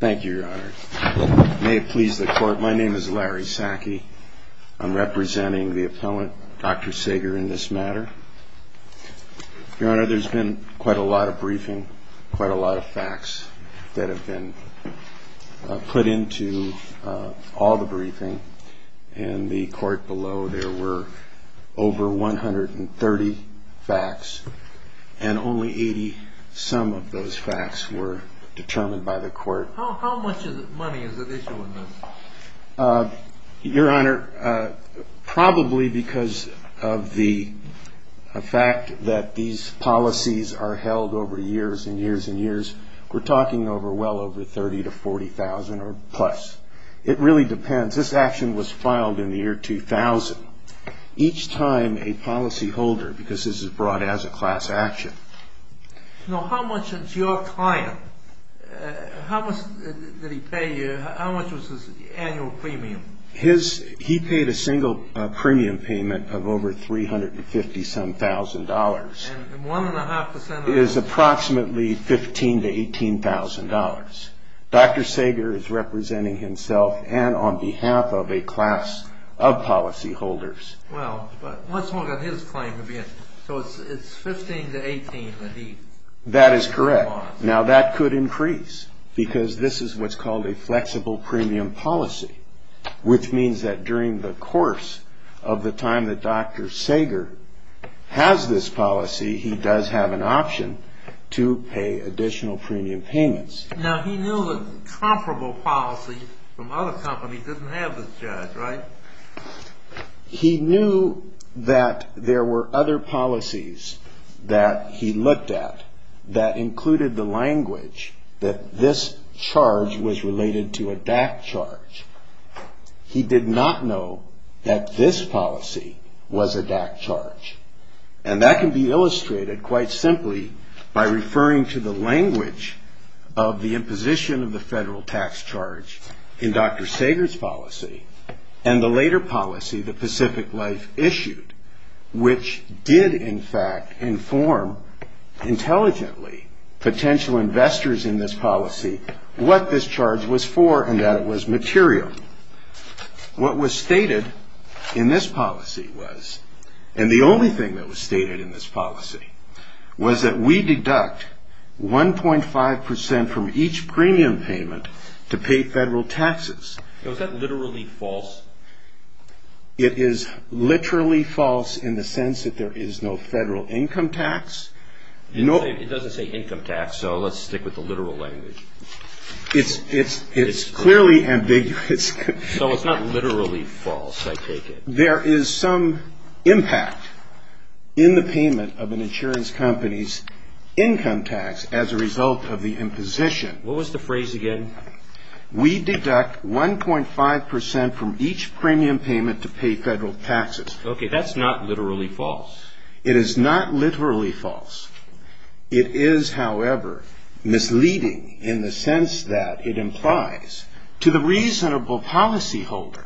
Thank you, Your Honor. May it please the Court, my name is Larry Sackey. I'm representing the appellant, Dr. Saeger, in this matter. Your Honor, there's been quite a lot of briefing, quite a lot of facts that have been put into all the briefing. In the court below, there were over 130 facts, and only 80-some of those facts were determined by the court. How much money is at issue in this? Your Honor, probably because of the fact that these policies are held over years and years and years, we're talking over well over 30,000 to 40,000 or plus. It really depends. This action was filed in the year 2000. Each time, a policyholder, because this is brought as a class action. Now, how much did your client, how much did he pay you, how much was his annual premium? He paid a single premium payment of over 350-some thousand dollars, is approximately 15 to 18 thousand dollars. Dr. Saeger is representing himself and on behalf of a class of policyholders. Well, but let's look at his claim. So it's 15 to 18 that he... That is correct. Now, that could increase, because this is what's called a flexible premium policy, which means that during the course of the time that Dr. Saeger has this policy, he does have an option to pay additional premium payments. Now, he knew the comparable policy from other companies doesn't have this charge, right? He knew that there were other policies that he looked at that included the language that this charge was related to a DAC charge. He did not know that this policy was a DAC charge. And that can be illustrated quite simply by referring to the language of the imposition of the federal tax charge in Dr. Saeger's policy and the later policy that Pacific Life issued, which did in fact inform intelligently potential investors in this policy what this charge was for and that it was material. What was stated in this policy was, and the only thing that was stated in this policy, was that we deduct 1.5 percent from each premium payment to pay federal taxes. Now, is that literally false? It is literally false in the sense that there is no federal income tax. It doesn't say income tax, so let's stick with the literal language. It's clearly ambiguous. So it's not literally false, I take it. There is some impact in the payment of an insurance company's income tax as a result of the imposition. What was the phrase again? We deduct 1.5 percent from each premium payment to pay federal taxes. Okay, that's not literally false. It is not literally false. It is, however, misleading in the sense that it implies to the reasonable policyholder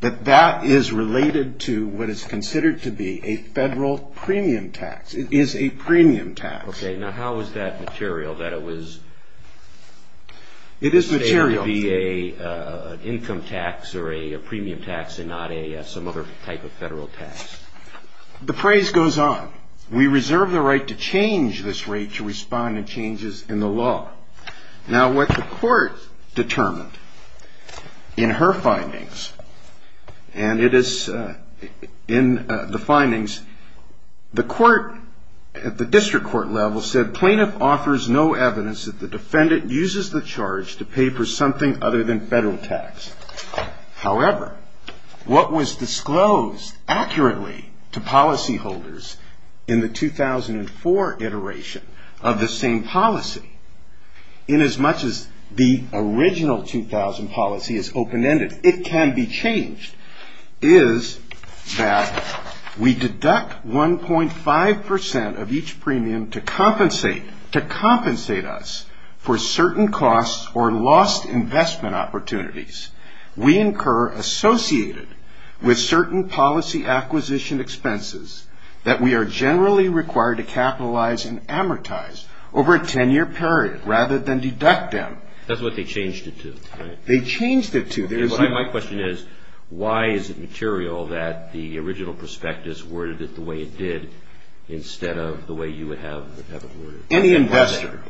that that is related to what is considered to be a federal premium tax. It is a premium tax. Okay, now how is that material, that it was... It is material. ...an income tax or a premium tax and not some other type of federal tax? The phrase goes on. We reserve the right to change this rate to respond to changes in the law. Now, what the court determined in her findings, and it is in the findings, the court, at the district court level, said plaintiff offers no evidence that the defendant uses the charge to pay for something other than federal tax. However, what was disclosed accurately to policyholders in the 2004 iteration of the same policy, inasmuch as the original 2000 policy is open-ended, it can be changed, is that we deduct 1.5 percent of each premium to compensate us for certain costs or lost investment opportunities. We incur associated with certain policy acquisition expenses that we are generally required to capitalize and amortize over a 10-year period rather than deduct them. That's what they changed it to, right? They changed it to. My question is, why is it material that the original prospectus worded it the way it did instead of the way you would have it worded? Any investor,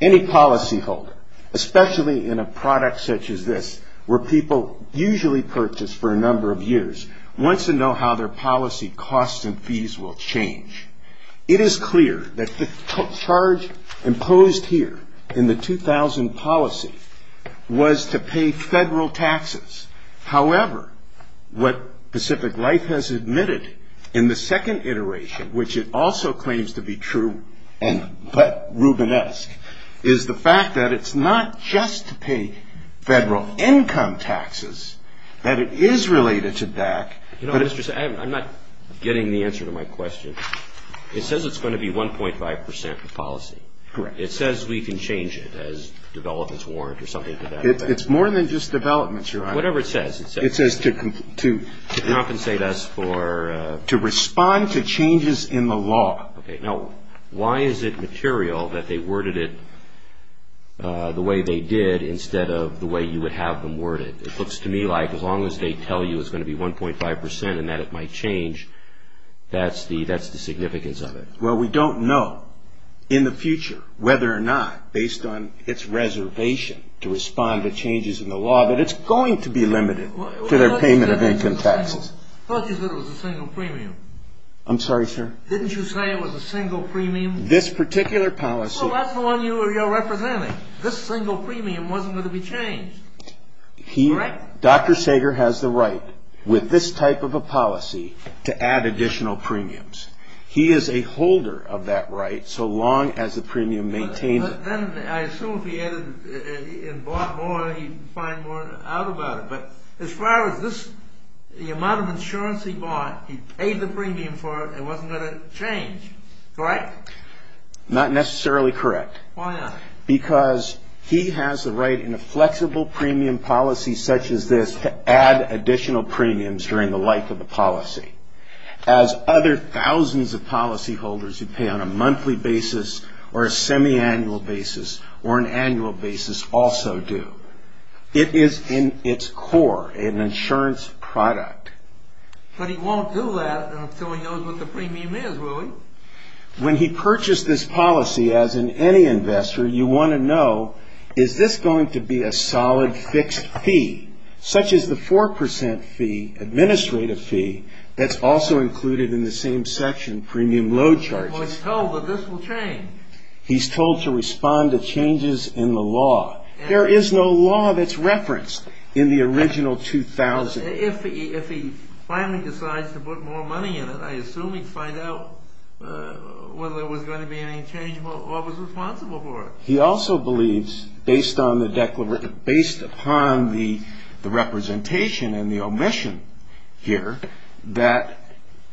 any policyholder, especially in a product such as this, where people usually purchase for a number of years, wants to know how their policy costs and fees will change. It is clear that the charge imposed here in the 2000 policy was to pay federal taxes. However, what Pacific Life has admitted in the second iteration, which it also claims to be true and but Rubinesque, is the fact that it's not just to pay federal income taxes, that it is related to DAC. I'm not getting the answer to my question. It says it's going to be 1.5 percent for policy. Correct. It says we can change it as developments warrant or something like that. It's more than just developments, Your Honor. Whatever it says. It says to compensate us for... To respond to changes in the law. Okay. Now, why is it material that they worded it the way they did instead of the way you would have them worded? It looks to me like as long as they tell you it's going to be 1.5 percent and that it might change, that's the significance of it. Well, we don't know in the future whether or not, based on its reservation to respond to changes in the law, that it's going to be limited to their payment of income taxes. I thought you said it was a single premium. I'm sorry, sir? Didn't you say it was a single premium? This particular policy... Well, that's the one you're representing. This single premium wasn't going to be changed. Correct? Dr. Sager has the right, with this type of a policy, to add additional premiums. He is a holder of that right so long as the premium maintained... Then I assume if he added and bought more, he'd find more out about it. But as far as this, the amount of insurance he bought, he paid the premium for it. It wasn't going to change. Correct? Not necessarily correct. Why not? Because he has the right, in a flexible premium policy such as this, to add additional premiums during the life of the policy, as other thousands of policyholders who pay on a monthly basis or a semiannual basis or an annual basis also do. It is in its core an insurance product. But he won't do that until he knows what the premium is, will he? When he purchased this policy, as in any investor, you want to know, is this going to be a solid fixed fee, such as the 4% fee, administrative fee, that's also included in the same section, premium load charges? Well, he's told that this will change. He's told to respond to changes in the law. There is no law that's referenced in the original 2000. If he finally decides to put more money in it, I assume he'd find out whether there was going to be any change and what was responsible for it. He also believes, based upon the representation and the omission here, that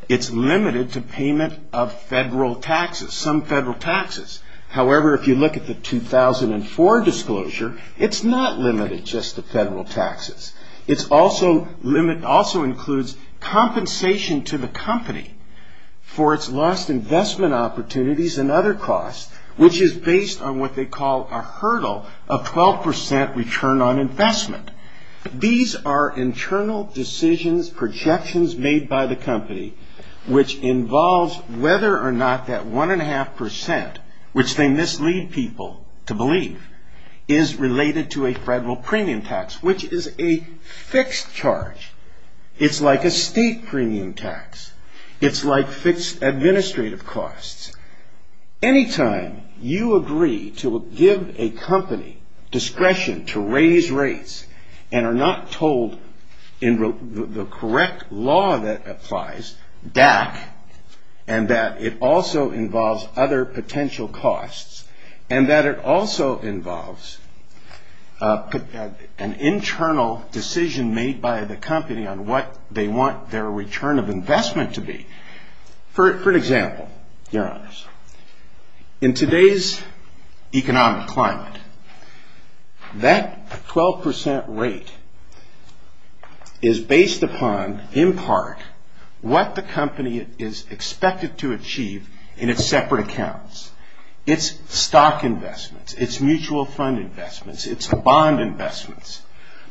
it's limited to payment of federal taxes, some federal taxes. However, if you look at the 2004 disclosure, it's not limited just to federal taxes. It also includes compensation to the company for its lost investment opportunities and other costs, which is based on what they call a hurdle of 12% return on investment. These are internal decisions, projections made by the company, which involves whether or not that 1.5%, which they mislead people to believe, is related to a federal premium tax, which is a fixed charge. It's like a state premium tax. It's like fixed administrative costs. Anytime you agree to give a company discretion to raise rates and are not told in the correct law that applies, DAC, and that it also involves other potential costs and that it also involves an internal decision made by the company on what they want their return of investment to be. For example, your honors, in today's economic climate, that 12% rate is based upon, in part, what the company is expected to achieve in its separate accounts. It's stock investments. It's mutual fund investments. It's bond investments.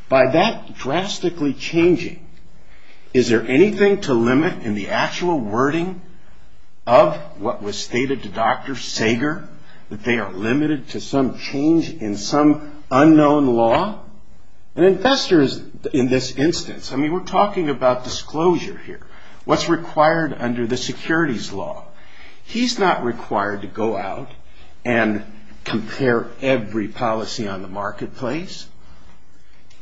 By that drastically changing, is there anything to limit in the actual wording of what was stated to Dr. Sager, that they are limited to some change in some unknown law? An investor, in this instance, I mean, we're talking about disclosure here. What's required under the securities law? He's not required to go out and compare every policy on the marketplace.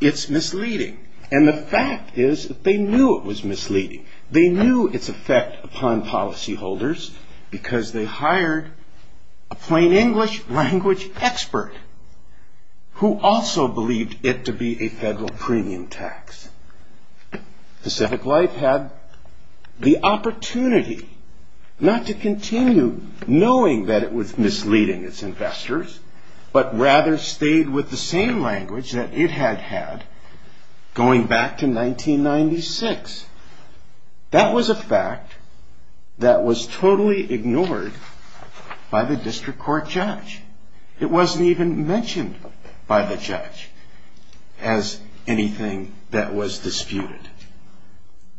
It's misleading. And the fact is that they knew it was misleading. They knew its effect upon policyholders because they hired a plain English language expert who also believed it to be a federal premium tax. Pacific Life had the opportunity, not to continue knowing that it was misleading its investors, but rather stayed with the same language that it had had going back to 1996. That was a fact that was totally ignored by the district court judge. It wasn't even mentioned by the judge as anything that was disputed.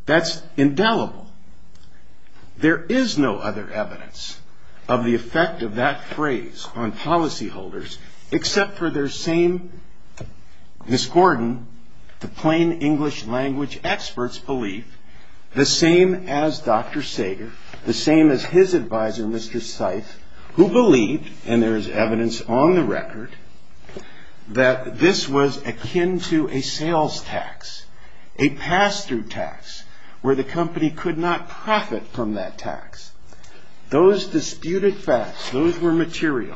That's indelible. There is no other evidence of the effect of that phrase on policyholders except for their same, Ms. Gordon, the plain English language expert's belief, the same as Dr. Sager, the same as his advisor, Mr. Seif, who believed, and there is evidence on the record, that this was akin to a sales tax, a pass-through tax, where the company could not profit from that tax. Those disputed facts, those were material.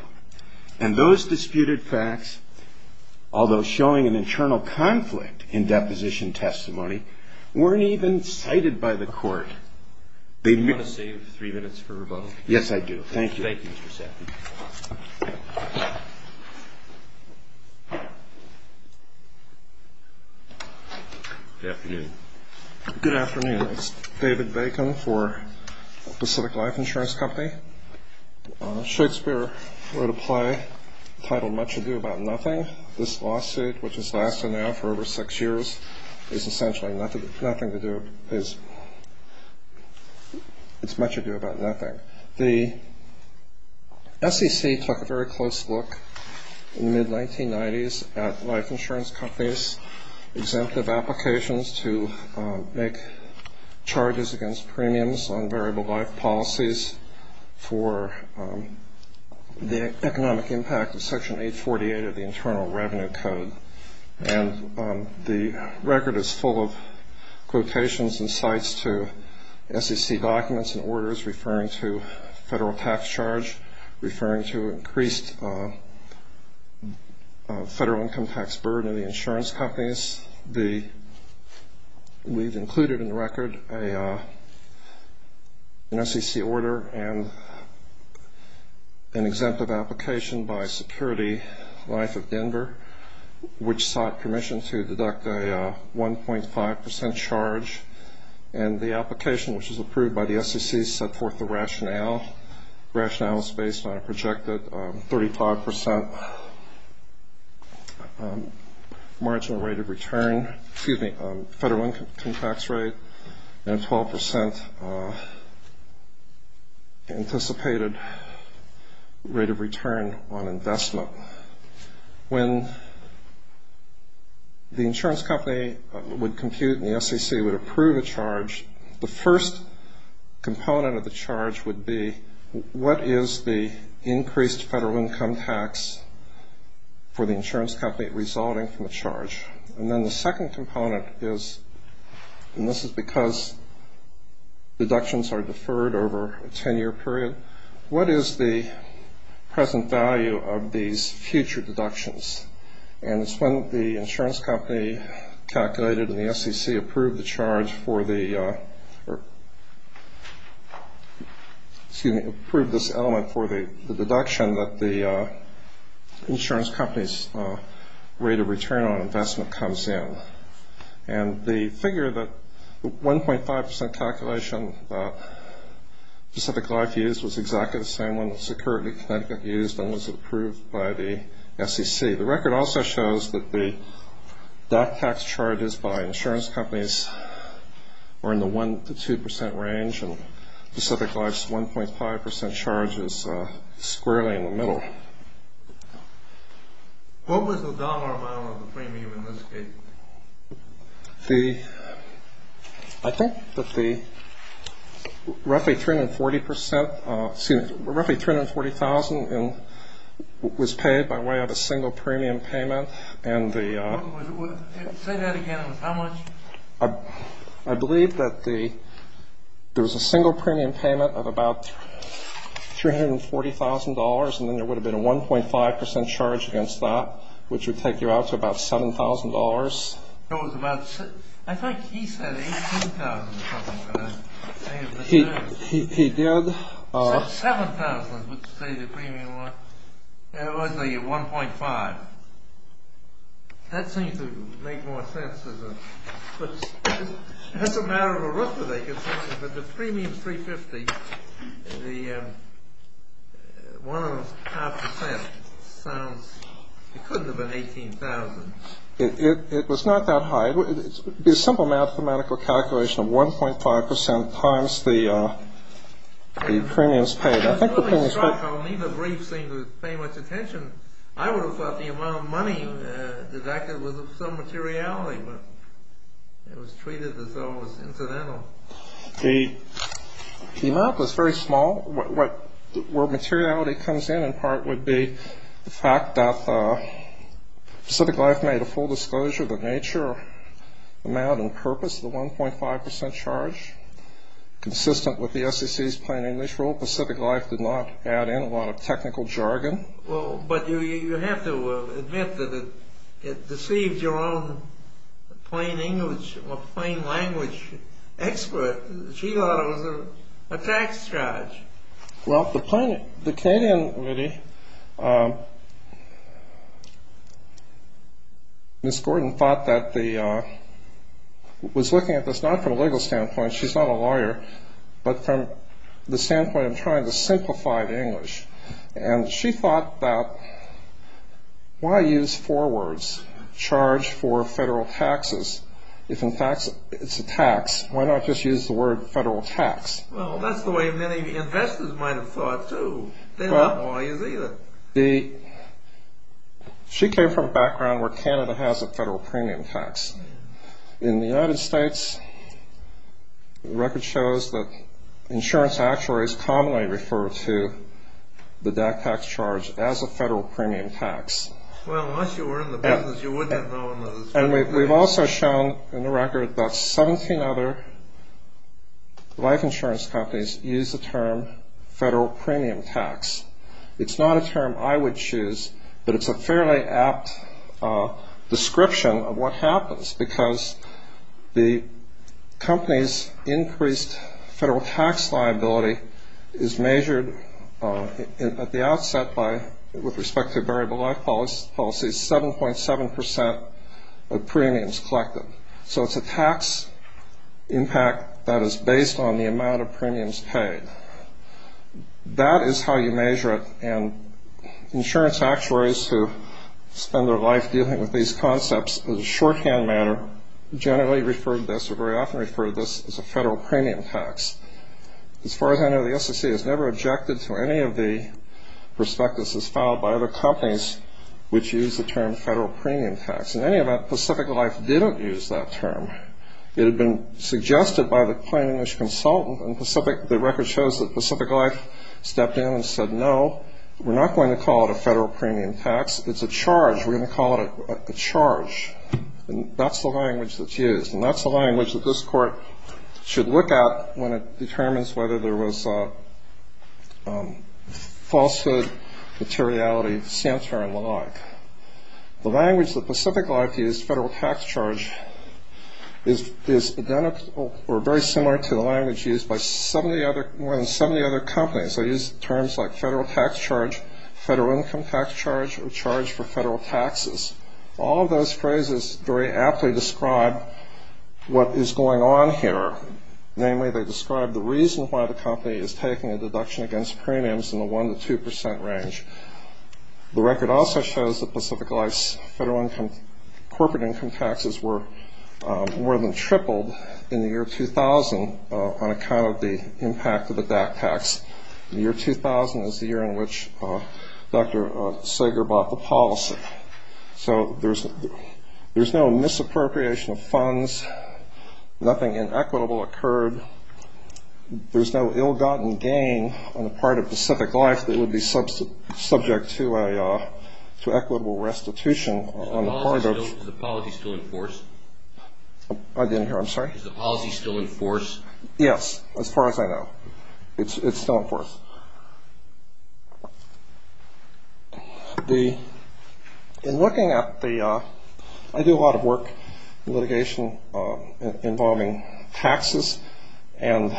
And those disputed facts, although showing an internal conflict in deposition testimony, weren't even cited by the court. Do you want to save three minutes for rebuttal? Yes, I do. Thank you. Thank you, Mr. Seif. Good afternoon. Good afternoon. It's David Bacon for Pacific Life Insurance Company. Shakespeare wrote a play titled Much Ado About Nothing. This lawsuit, which has lasted now for over six years, is essentially nothing to do with his Much Ado About Nothing. The SEC took a very close look in the mid-1990s at life insurance companies' exemptive applications to make charges against premiums on variable life policies for the economic impact of Section 848 of the Internal Revenue Code. And the record is full of quotations and cites to SEC documents and orders referring to federal tax charge, referring to increased federal income tax burden in the insurance companies. We've included in the record an SEC order and an exemptive application by Security Life of Denver, which sought permission to deduct a 1.5% charge. And the application, which was approved by the SEC, set forth the rationale. The rationale is based on a projected 35% marginal rate of return, excuse me, federal income tax rate and a 12% anticipated rate of return on investment. When the insurance company would compute and the SEC would approve a charge, the first component of the charge would be what is the increased federal income tax for the insurance company resulting from the charge. And then the second component is, and this is because deductions are deferred over a 10-year period, what is the present value of these future deductions. And it's when the insurance company calculated and the SEC approved the charge for the, excuse me, approved this element for the deduction and that the insurance company's rate of return on investment comes in. And the figure, the 1.5% calculation that Pacific Life used was exactly the same one that Security Life used and was approved by the SEC. The record also shows that the dot tax charges by insurance companies were in the 1% to 2% range and Pacific Life's 1.5% charge is squarely in the middle. What was the dollar amount of the premium in this case? I think that the roughly 340,000 was paid by way of a single premium payment and the Say that again, how much? I believe that there was a single premium payment of about $340,000 and then there would have been a 1.5% charge against that which would take you out to about $7,000. I thought he said $18,000 or something. He did. $7,000 would say the premium was. It was a 1.5. That seems to make more sense. That's a matter of arithmetic. But the premium is $350,000. The 1.5% sounds. It couldn't have been $18,000. It was not that high. It would be a simple mathematical calculation of 1.5% times the premiums paid. I was really struck. Neither brief seemed to pay much attention. I would have thought the amount of money deducted was of some materiality, but it was treated as though it was incidental. The amount was very small. Where materiality comes in in part would be the fact that Pacific Life made a full disclosure that Nature amount and purpose of the 1.5% charge consistent with the SEC's plain English rule. Pacific Life did not add in a lot of technical jargon. But you have to admit that it deceived your own plain English or plain language expert. She thought it was a tax charge. Well, the Canadian committee, Ms. Gordon thought that the, was looking at this not from a legal standpoint, she's not a lawyer, but from the standpoint of trying to simplify the English. And she thought that, why use four words, charge for federal taxes, if in fact it's a tax, why not just use the word federal tax? Well, that's the way many investors might have thought too. They're not lawyers either. She came from a background where Canada has a federal premium tax. In the United States, the record shows that insurance actuaries commonly refer to the tax charge as a federal premium tax. Well, unless you were in the business, you wouldn't have known. And we've also shown in the record that 17 other life insurance companies use the term federal premium tax. It's not a term I would choose, but it's a fairly apt description of what happens. Because the company's increased federal tax liability is measured at the outset by, with respect to variable life policies, 7.7% of premiums collected. So it's a tax impact that is based on the amount of premiums paid. That is how you measure it, and insurance actuaries who spend their life dealing with these concepts, in a shorthand manner, generally refer to this or very often refer to this as a federal premium tax. As far as I know, the SEC has never objected to any of the prospectuses filed by other companies which use the term federal premium tax. In any event, Pacific Life didn't use that term. It had been suggested by the plain English consultant, and the record shows that Pacific Life stepped in and said, no, we're not going to call it a federal premium tax. It's a charge. We're going to call it a charge. And that's the language that's used, and that's the language that this Court should look at when it determines whether there was falsehood, materiality, sanctuary, and the like. The language that Pacific Life used, federal tax charge, is identical or very similar to the language used by more than 70 other companies. They use terms like federal tax charge, federal income tax charge, or charge for federal taxes. All of those phrases very aptly describe what is going on here. Namely, they describe the reason why the company is taking a deduction against premiums in the 1% to 2% range. The record also shows that Pacific Life's federal corporate income taxes were more than tripled in the year 2000 on account of the impact of the DAC tax. The year 2000 is the year in which Dr. Sager bought the policy. So there's no misappropriation of funds. Nothing inequitable occurred. There's no ill-gotten gain on the part of Pacific Life that would be subject to equitable restitution. Is the policy still in force? I didn't hear. I'm sorry? Is the policy still in force? Yes, as far as I know. It's still in force. In looking at the – I do a lot of work in litigation involving taxes, and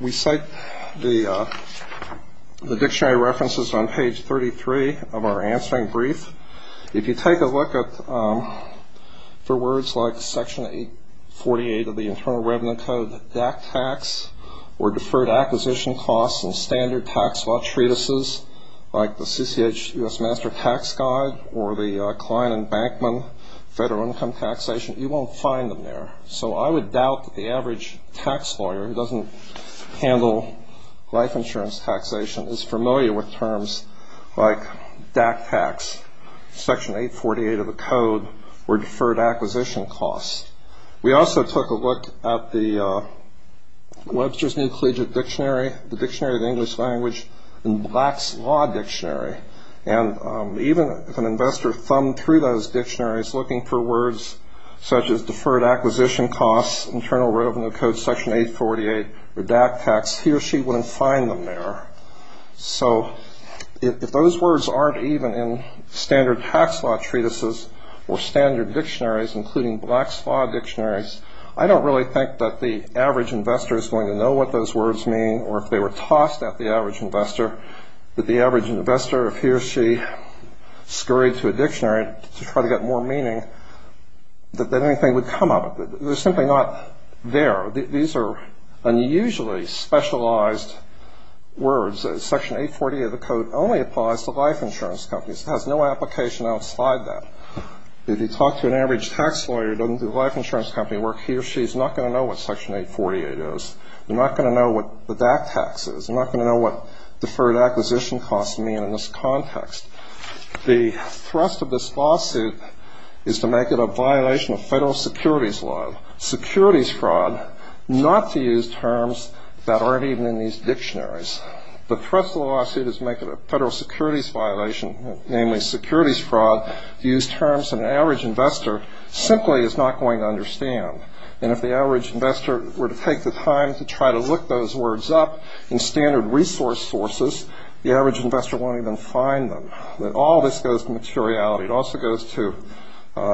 we cite the dictionary references on page 33 of our answering brief. If you take a look at – for words like Section 848 of the Internal Revenue Code, DAC tax, or deferred acquisition costs in standard tax law treatises like the CCH US Master Tax Guide or the Klein and Bankman Federal Income Taxation, you won't find them there. So I would doubt that the average tax lawyer who doesn't handle life insurance taxation is familiar with terms like DAC tax, Section 848 of the Code, or deferred acquisition costs. We also took a look at the Webster's New Collegiate Dictionary, the Dictionary of the English Language, and Black's Law Dictionary. And even if an investor thumbed through those dictionaries looking for words such as deferred acquisition costs, Internal Revenue Code, Section 848, or DAC tax, he or she wouldn't find them there. So if those words aren't even in standard tax law treatises or standard dictionaries, including Black's Law Dictionaries, I don't really think that the average investor is going to know what those words mean or if they were tossed at the average investor, that the average investor, if he or she scurried to a dictionary to try to get more meaning, that anything would come of it. They're simply not there. These are unusually specialized words. Section 848 of the Code only applies to life insurance companies. It has no application outside that. If you talk to an average tax lawyer who doesn't do life insurance company work, he or she is not going to know what Section 848 is. They're not going to know what the DAC tax is. They're not going to know what deferred acquisition costs mean in this context. The thrust of this lawsuit is to make it a violation of federal securities law. Securities fraud, not to use terms that aren't even in these dictionaries. The thrust of the lawsuit is to make it a federal securities violation, namely securities fraud. To use terms that an average investor simply is not going to understand. And if the average investor were to take the time to try to look those words up in standard resource sources, the average investor won't even find them. All this goes to materiality. It also goes to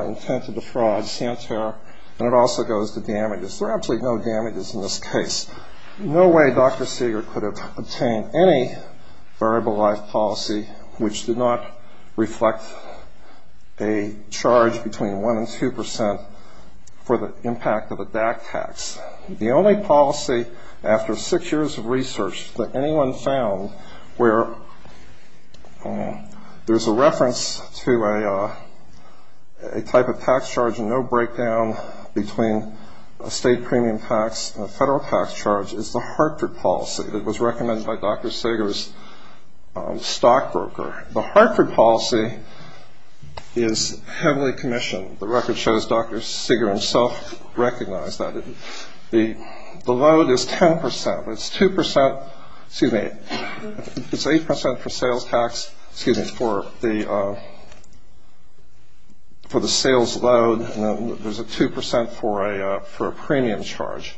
intent to defraud, Santerra, and it also goes to damages. There are absolutely no damages in this case. No way Dr. Seeger could have obtained any variable life policy which did not reflect a charge between 1% and 2% for the impact of a DAC tax. The only policy after six years of research that anyone found where there's a reference to a type of tax charge and no breakdown between a state premium tax and a federal tax charge is the Hartford policy. It was recommended by Dr. Seeger's stockbroker. The Hartford policy is heavily commissioned. The record shows Dr. Seeger himself recognized that. The load is 10%. It's 2% – excuse me, it's 8% for sales tax – excuse me, for the sales load, and there's a 2% for a premium charge.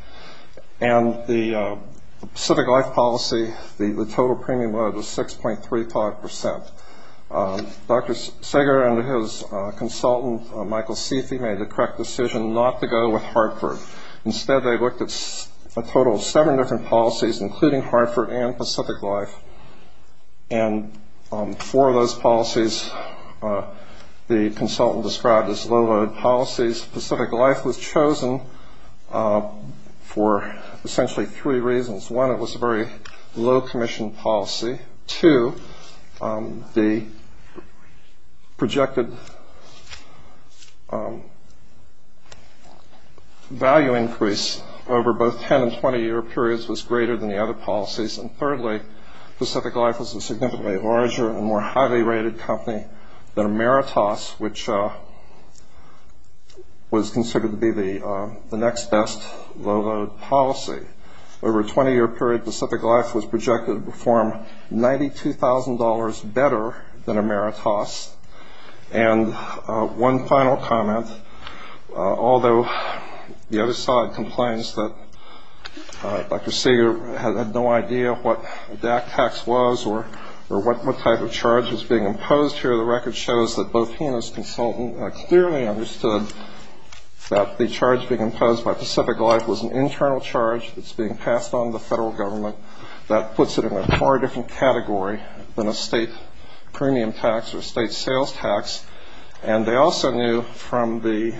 And the civic life policy, the total premium load was 6.35%. Dr. Seeger and his consultant, Michael Seethy, made the correct decision not to go with Hartford. Instead, they looked at a total of seven different policies, including Hartford and Pacific Life. And for those policies, the consultant described as low-load policies. Pacific Life was chosen for essentially three reasons. One, it was a very low-commission policy. Two, the projected value increase over both 10- and 20-year periods was greater than the other policies. And thirdly, Pacific Life was a significantly larger and more highly-rated company than Ameritas, which was considered to be the next best low-load policy. Over a 20-year period, Pacific Life was projected to perform $92,000 better than Ameritas. And one final comment, although the other side complains that Dr. Seeger had no idea what the tax was or what type of charge was being imposed here, the record shows that both he and his consultant clearly understood that the charge being imposed by Pacific Life was an internal charge that's being passed on to the federal government that puts it in a far different category than a state premium tax or a state sales tax. And they also knew from the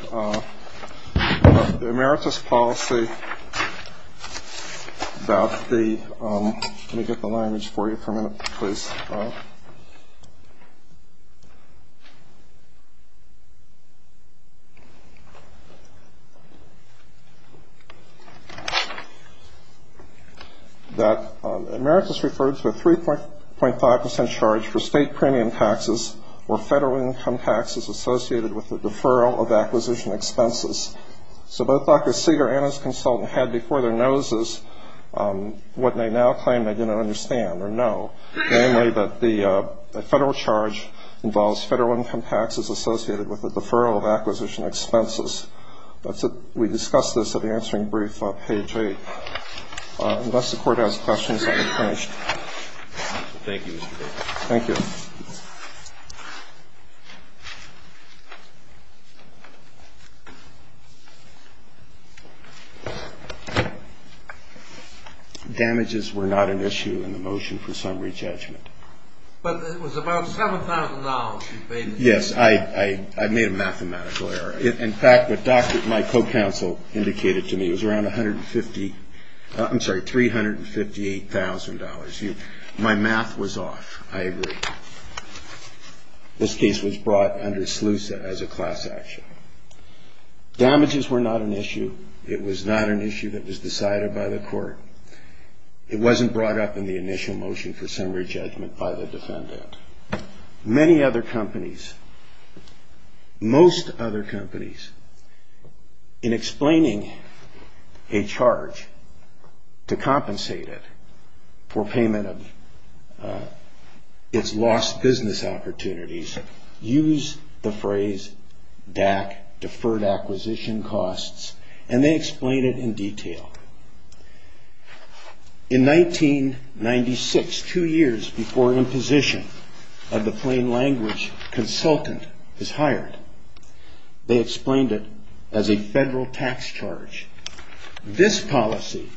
Ameritas policy that the – let me get the language for you for a minute, please – that Ameritas referred to a 3.5 percent charge for state premium taxes or federal income taxes associated with the deferral of acquisition expenses. So both Dr. Seeger and his consultant had before their noses what they now claim they didn't understand or know, namely that the federal charge involves federal income taxes associated with the deferral of acquisition expenses. We discussed this at the answering brief on page 8. Unless the Court has questions, I'll be finished. Thank you, Mr. Baker. Thank you. Damages were not an issue in the motion for summary judgment. But it was about $7,000 you paid the judge. Yes, I made a mathematical error. In fact, what my co-counsel indicated to me was around 150 – I'm sorry, $358,000. My math was off. I agree. This case was brought under SLUSA as a class action. Damages were not an issue. It was not an issue that was decided by the Court. It wasn't brought up in the initial motion for summary judgment by the defendant. Many other companies, most other companies, in explaining a charge to compensate it for payment of its lost business opportunities, use the phrase DAC, deferred acquisition costs, and they explain it in detail. In 1996, two years before imposition of the plain language, consultant is hired. They explained it as a federal tax charge. This policy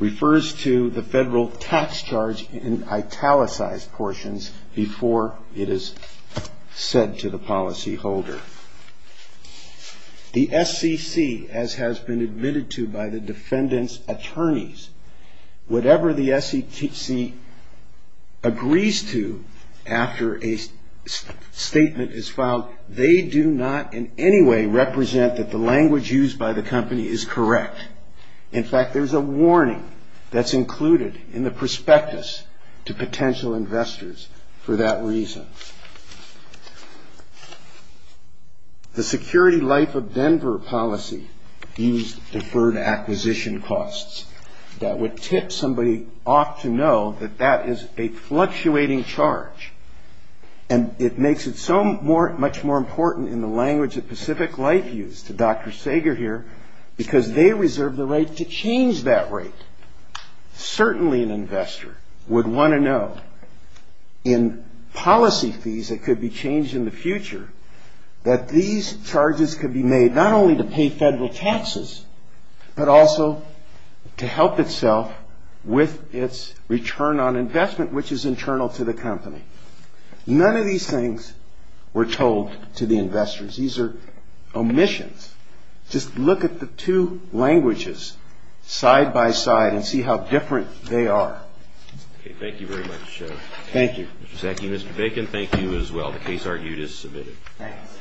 refers to the federal tax charge in italicized portions before it is said to the policyholder. The SEC, as has been admitted to by the defendant's attorneys, whatever the SEC agrees to after a statement is filed, they do not in any way represent that the language used by the company is correct. In fact, there's a warning that's included in the prospectus to potential investors for that reason. The security life of Denver policy used deferred acquisition costs. That would tip somebody off to know that that is a fluctuating charge, and it makes it so much more important in the language that Pacific Life used, to Dr. Sager here, because they reserve the right to change that rate. Certainly an investor would want to know in policy fees that could be changed in the future, that these charges could be made not only to pay federal taxes, but also to help itself with its return on investment, which is internal to the company. None of these things were told to the investors. These are omissions. Just look at the two languages side-by-side and see how different they are. Thank you very much. Mr. Sacky, Mr. Bacon, thank you as well. The case argued is submitted. Thanks.